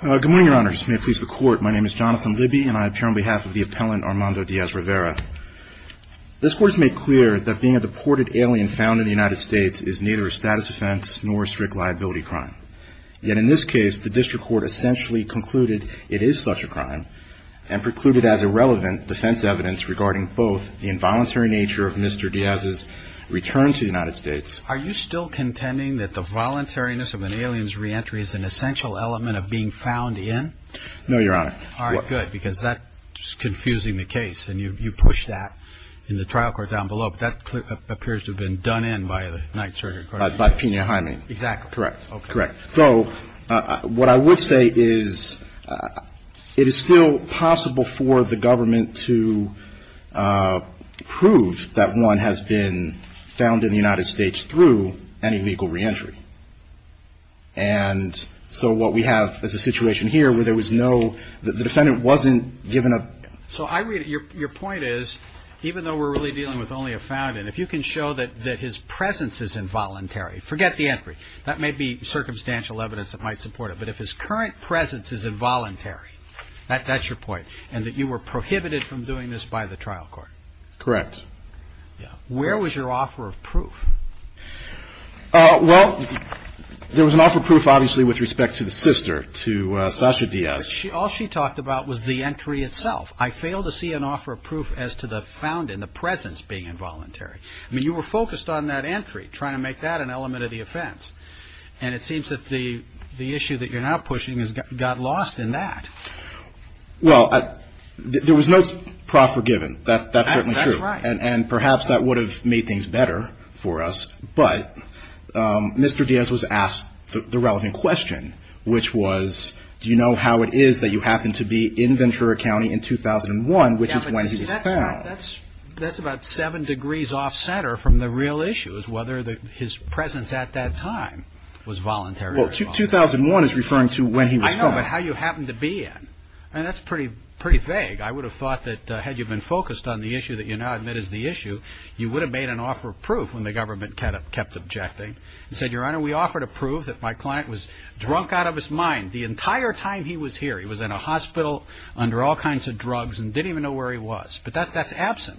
Good morning, Your Honors. May it please the Court, my name is Jonathan Libby and I appear on behalf of the appellant Armando Diaz-Rivera. This Court has made clear that being a deported alien found in the United States is neither a status offense nor a strict liability crime. Yet in this case, the District Court essentially concluded it is such a crime and precluded as irrelevant defense evidence regarding both the involuntary nature of Mr. Diaz's return to the United States. Are you still contending that the voluntariness of an alien's re-entry is an essential element of being found in? No, Your Honor. All right, good, because that's just confusing the case and you push that in the trial court down below, but that appears to have been done in by the Ninth Circuit Court of Appeals. By Pena Hyman. Exactly. Correct. Correct. So what I would say is it is still possible for the government to prove that he was in the United States through any legal re-entry. And so what we have is a situation here where there was no, the defendant wasn't given a... So I read it, your point is, even though we're really dealing with only a found in, if you can show that his presence is involuntary, forget the entry, that may be circumstantial evidence that might support it, but if his current presence is involuntary, that's your point, and that you were prohibited from doing this by the trial court. Correct. Where was your offer of proof? Well, there was an offer of proof obviously with respect to the sister, to Sasha Diaz. All she talked about was the entry itself. I failed to see an offer of proof as to the found in, the presence being involuntary. I mean, you were focused on that entry, trying to make that an element of the offense, and it seems that the issue that you're now pushing got lost in that. Well, there was no proper given, that's certainly true. That's right. And perhaps that would have made things better for us, but Mr. Diaz was asked the relevant question, which was, do you know how it is that you happen to be in Ventura County in 2001, which is when he was found? That's about seven degrees off-center from the real issue, is whether his presence at that time was voluntary or involuntary. Well, 2001 is referring to when he was found. But how you happen to be in, and that's pretty vague. I would have thought that had you been focused on the issue that you now admit is the issue, you would have made an offer of proof when the government kept objecting. He said, Your Honor, we offered a proof that my client was drunk out of his mind the entire time he was here. He was in a hospital under all kinds of drugs and didn't even know where he was. But that's absent.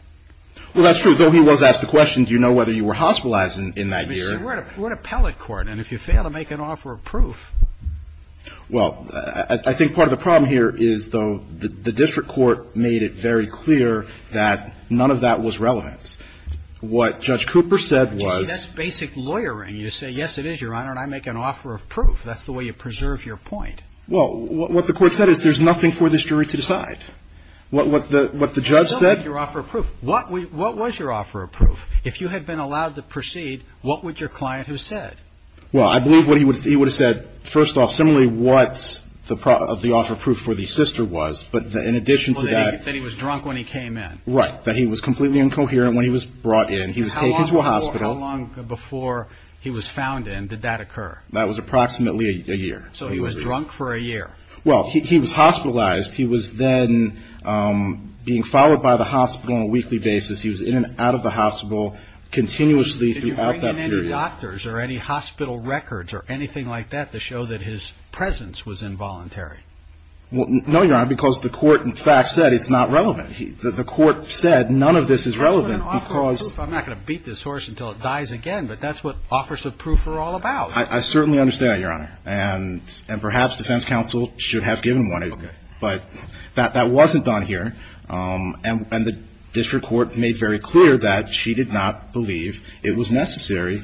Well, that's true. Though he was asked the question, do you know whether you were hospitalized in that year? What appellate court. And if you fail to make an offer of proof. Well, I think part of the problem here is, though, the district court made it very clear that none of that was relevant. What Judge Cooper said was. That's basic lawyering. You say, yes, it is, Your Honor, and I make an offer of proof. That's the way you preserve your point. Well, what the court said is there's nothing for this jury to decide. What the judge said. What was your offer of proof? If you had been allowed to proceed, what would your client have said? Well, I believe what he would see would have said. First off, similarly, what's the of the offer of proof for the sister was. But in addition to that, that he was drunk when he came in. Right. That he was completely incoherent when he was brought in. He was taken to a hospital long before he was found. And did that occur? That was approximately a year. So he was drunk for a year. Well, he was hospitalized. He was then being followed by the hospital on a weekly basis. He was in and out of the hospital continuously. Did you bring in any doctors or any hospital records or anything like that to show that his presence was involuntary? No, Your Honor, because the court, in fact, said it's not relevant. The court said none of this is relevant because I'm not going to beat this horse until it dies again. But that's what offers of proof are all about. I certainly understand, Your Honor. And and perhaps defense counsel should have given one. But that that wasn't done here. And the district court made very clear that she did not believe it was necessary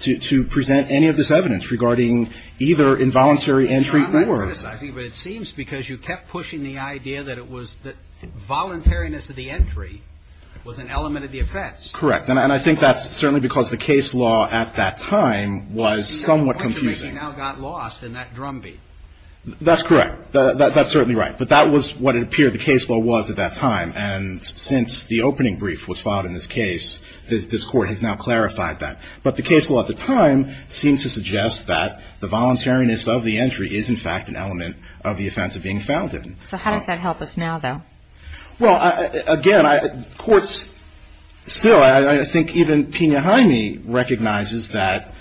to to present any of this evidence regarding either involuntary entry or it seems because you kept pushing the idea that it was that voluntariness of the entry was an element of the offense. Correct. And I think that's certainly because the case law at that time was somewhat confusing. Now got lost in that drumbeat. That's correct. That's certainly right. But that was what it appeared the case law was at that time. And since the opening brief was filed in this case, this court has now clarified that. But the case law at the time seemed to suggest that the voluntariness of the entry is, in fact, an element of the offense of being founded. So how does that help us now, though? Well, again, I courts still I think even behind me recognizes that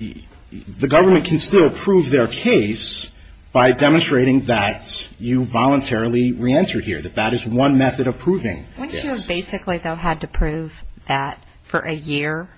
the government can still prove their case by demonstrating that you voluntarily reentered here, that that is one method of proving this. Wouldn't you have basically, though, had to prove that for a year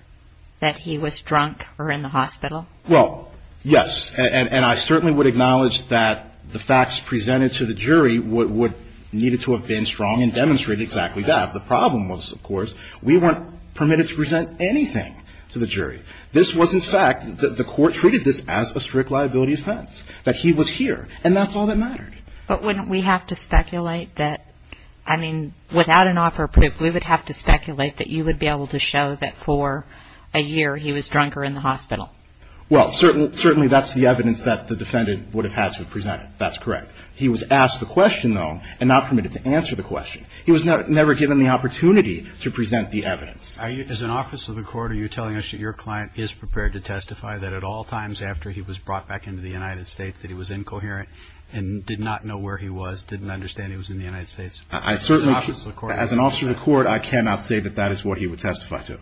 that he was drunk or in the hospital? Well, yes. And I certainly would acknowledge that the facts presented to the jury would needed to have been strong and demonstrated exactly that. The problem was, of course, we weren't permitted to present anything to the jury. This was, in fact, the court treated this as a strict liability offense, that he was here. And that's all that mattered. But wouldn't we have to speculate that, I mean, without an offer of proof, we would have to speculate that you would be able to show that for a year he was drunk or in the hospital? Well, certainly that's the evidence that the defendant would have had to present. That's correct. He was asked the question, though, and not permitted to answer the question. He was never given the opportunity to present the evidence. As an officer of the court, are you telling us that your client is prepared to testify that at all times after he was brought back into the United States that he was incoherent and did not know where he was, didn't understand he was in the United States? As an officer of the court, I cannot say that that is what he would testify to.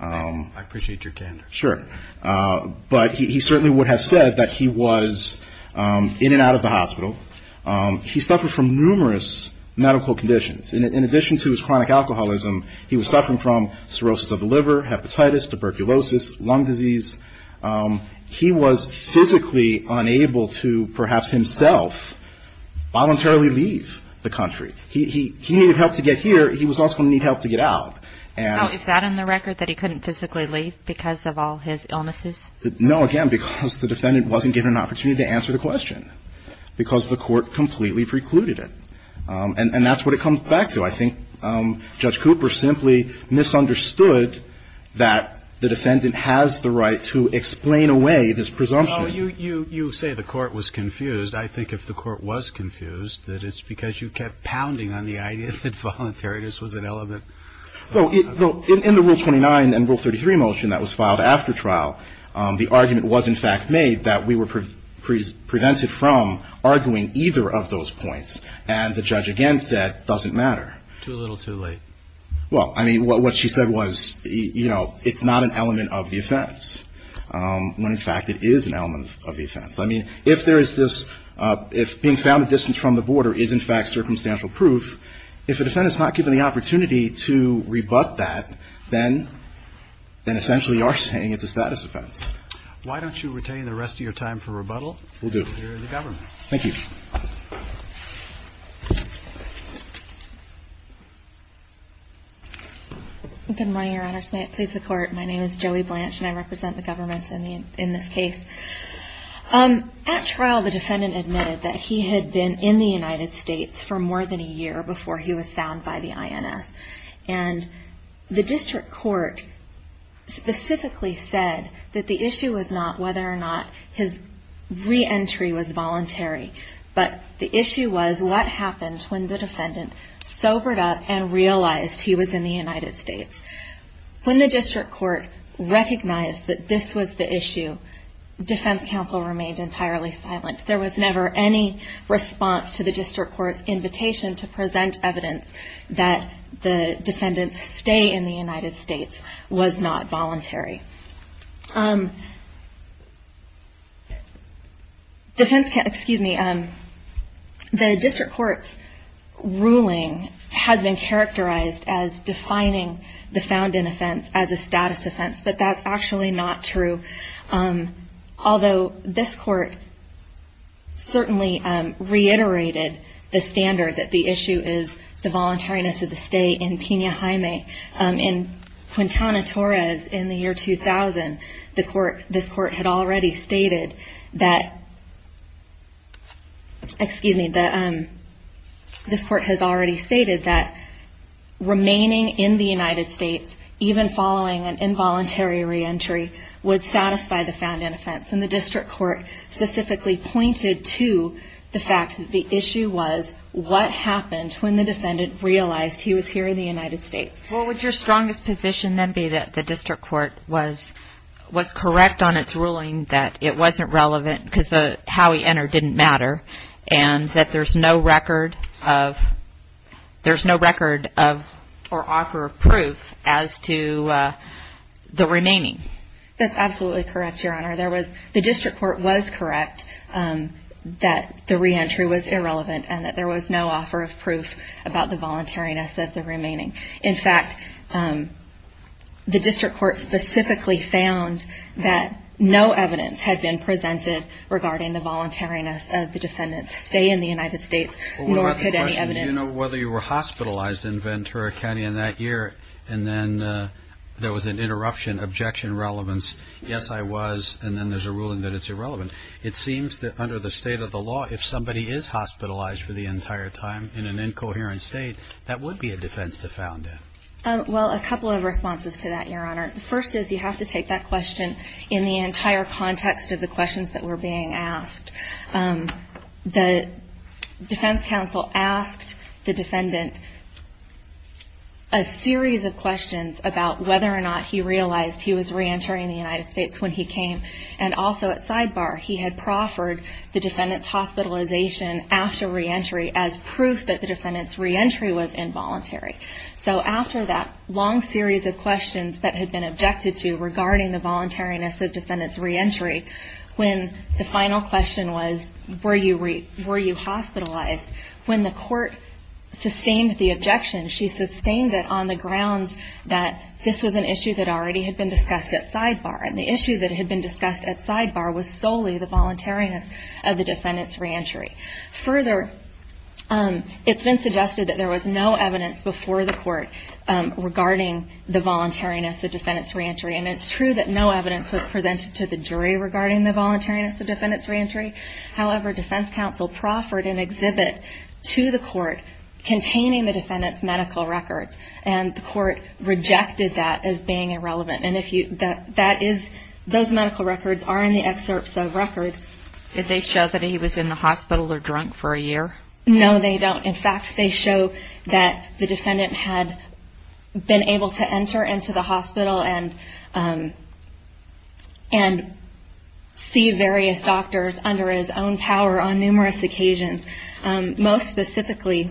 I appreciate your candor. Sure. But he certainly would have said that he was in and out of the hospital. He suffered from numerous medical conditions. In addition to his chronic alcoholism, he was suffering from cirrhosis of the liver, hepatitis, tuberculosis, lung disease. He was physically unable to perhaps himself voluntarily leave the country. He needed help to get here. He was also going to need help to get out. So is that in the record, that he couldn't physically leave because of all his illnesses? No, again, because the defendant wasn't given an opportunity to answer the question, because the court completely precluded it. And that's what it was. The court misunderstood that the defendant has the right to explain away this presumption. Well, you say the court was confused. I think if the court was confused, that it's because you kept pounding on the idea that voluntariness was an element. Well, in the Rule 29 and Rule 33 motion that was filed after trial, the argument was in fact made that we were prevented from arguing either of those points. And the judge again said it doesn't matter. Too little, too late. Well, I mean, what she said was, you know, it's not an element of the offense, when in fact it is an element of the offense. I mean, if there is this, if being found at distance from the border is in fact circumstantial proof, if a defendant is not given the opportunity to rebut that, then essentially you are saying it's a status offense. Why don't you retain the rest of your time for rebuttal? Will do. And we'll hear the government. Thank you. Good morning, Your Honors. May it please the Court. My name is Joey Blanche, and I represent the government in this case. At trial, the defendant admitted that he had been in the United States for more than a year before he was found by the INS. And the district court specifically said that the issue was what happened when the defendant sobered up and realized he was in the United States. When the district court recognized that this was the issue, defense counsel remained entirely silent. There was never any response to the district court's invitation to present evidence that the defendant's stay in the United States was not voluntary. The district court's ruling has been characterized as defining the found-in offense as a status offense, but that's actually not true. Although this court certainly reiterated the standard that the issue is the voluntariness of the stay in Pina Jaime in Quintana Torres in the year 2000, this court has already stated that remaining in the United States, even following an involuntary reentry, would satisfy the found-in offense. And the district court specifically pointed to the fact that the issue was what happened when the defendant realized he was here in the United States. Well, would your strongest position then be that the district court was correct on its ruling that it wasn't relevant because how he entered didn't matter and that there's no record of, there's no record of or offer of proof as to the remaining? That's absolutely correct, Your Honor. The district court was correct that the reentry was irrelevant and that there was no offer of proof about the voluntariness of the remaining. In fact, the district court specifically found that no evidence had been presented regarding the voluntariness of the defendant's stay in the United States, nor could any evidence... Well, what about the question, you know, whether you were hospitalized in Ventura County in that year and then there was an interruption, objection, relevance, yes I was, and then there's a ruling that it's irrelevant. It seems that under the state of the law, if somebody is hospitalized for the entire time in an incoherent state, that would be a defense defendant. Well, a couple of responses to that, Your Honor. The first is you have to take that question in the entire context of the questions that were being asked. The defense counsel asked the defendant a series of questions about whether or not he realized he was reentering the United States when he came, and also at sidebar, he had proffered the defendant's So after that long series of questions that had been objected to regarding the voluntariness of defendant's reentry, when the final question was, were you hospitalized, when the court sustained the objection, she sustained it on the grounds that this was an issue that already had been discussed at sidebar, and the issue that had been discussed at sidebar was solely the voluntariness of the defendant's reentry. Further, it's been suggested that there was no evidence before the court regarding the voluntariness of defendant's reentry, and it's true that no evidence was presented to the jury regarding the voluntariness of defendant's reentry. However, defense counsel proffered an exhibit to the court containing the defendant's medical records, and the court rejected that as being irrelevant. Those medical records are in the excerpts of records. Did they show that he was in the hospital or drunk for a year? No, they don't. In fact, they show that the defendant had been able to enter into the hospital and see various doctors under his own power on numerous occasions. Most specifically,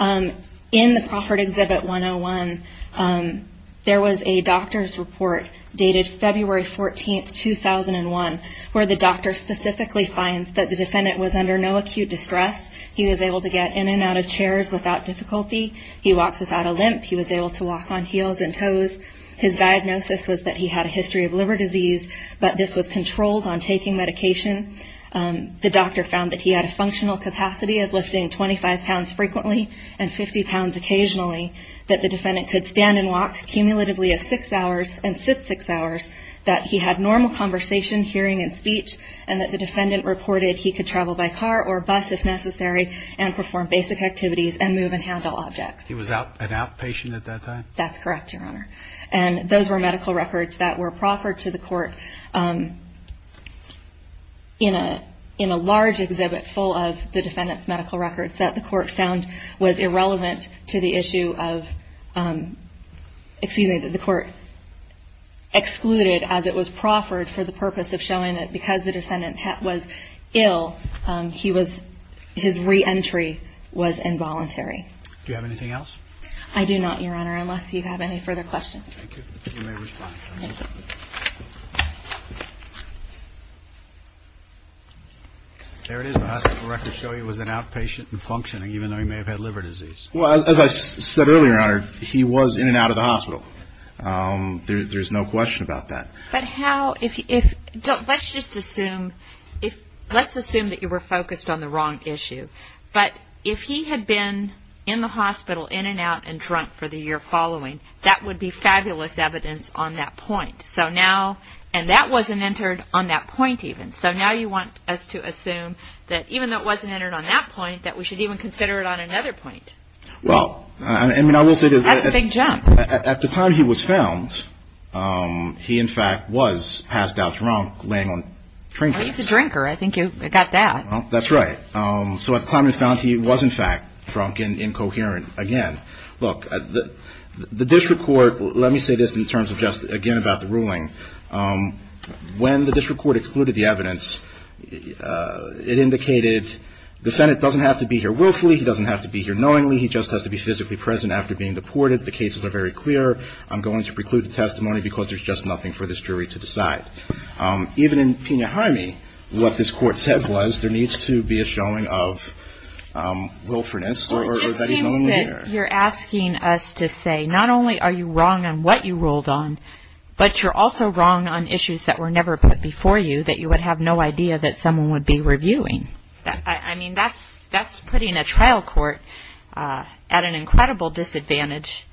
in the proffered exhibit 101, there was a doctor's report dated February 14, 2001, where the doctor specifically finds that the defendant was under no acute distress. He was able to get in and out of chairs without difficulty. He walks without a limp. He was able to walk on heels and toes. His diagnosis was that he had a history of liver disease, but this was controlled on taking medication. The doctor found that he had a functional capacity of 25 pounds frequently and 50 pounds occasionally, that the defendant could stand and walk cumulatively of six hours and sit six hours, that he had normal conversation, hearing, and speech, and that the defendant reported he could travel by car or bus if necessary and perform basic activities and move and handle objects. He was an outpatient at that time? That's correct, Your Honor. And those were medical records that were proffered to the was irrelevant to the issue of, excuse me, that the court excluded as it was proffered for the purpose of showing that because the defendant was ill, he was, his reentry was involuntary. Do you have anything else? I do not, Your Honor, unless you have any further questions. Thank you. You may respond. Thank you. There it is. The hospital records show he was an outpatient and functioning, even though he may have had liver disease. Well, as I said earlier, Your Honor, he was in and out of the hospital. There's no question about that. But how, if, let's just assume, let's assume that you were focused on the wrong issue, but if he had been in the hospital, in and out, and drunk for the year following, that would be fabulous evidence on that point. So now, and that wasn't entered on that point even. So now you want us to assume that even though it wasn't entered on that point, that we should even consider it on another point. Well, I mean, I will say that at the time he was found, he in fact was passed out drunk laying on trinkets. Well, he's a drinker. I think you got that. That's right. So at the time he was found, he was in fact drunk and incoherent again. Look, the district court, let me say this in terms of just, again, about the ruling. When the district court excluded the evidence, it indicated the defendant doesn't have to be here willfully. He doesn't have to be here knowingly. He just has to be physically present after being deported. The cases are very clear. I'm going to preclude the testimony because there's just nothing for this jury to decide. Even in Pena-Hyme, what this Court said was there needs to be a showing of willfulness or that he's only there. You're asking us to say, not only are you wrong on what you ruled on, but you're also wrong on issues that were never put before you that you would have no idea that someone would be reviewing. I mean, that's putting a trial court at an incredible disadvantage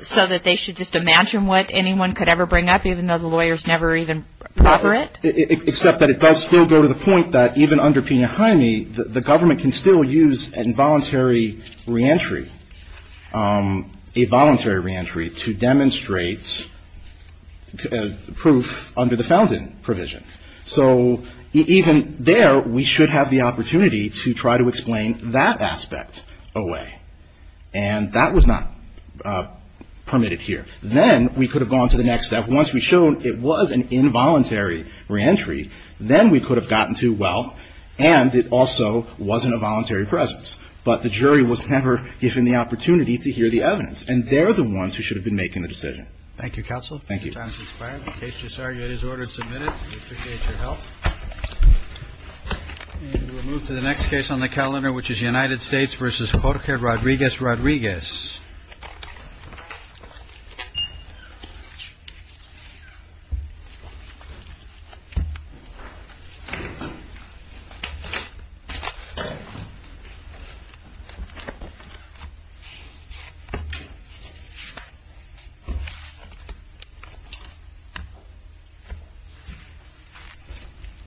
so that they should just imagine what anyone could ever bring up even though the lawyers never even cover it? Except that it does still go to the point that even under Pena-Hyme, the government can still use an involuntary re-entry, a voluntary re-entry to demonstrate proof under the Fountain provision. So even there, we should have the opportunity to try to explain that aspect away. And that was not permitted here. Then we could have gone to the next step. Once we showed it was an involuntary re-entry, then we could have gotten to, well, and it also wasn't a voluntary presence. But the jury was never given the opportunity to hear the evidence. And they're the ones who should have been making the decision. Thank you, counsel. Thank you. The time has expired. The case is ordered and submitted. We appreciate your help. We'll move to the next case on the calendar, which is United States v. Jorge Rodriguez Rodriguez.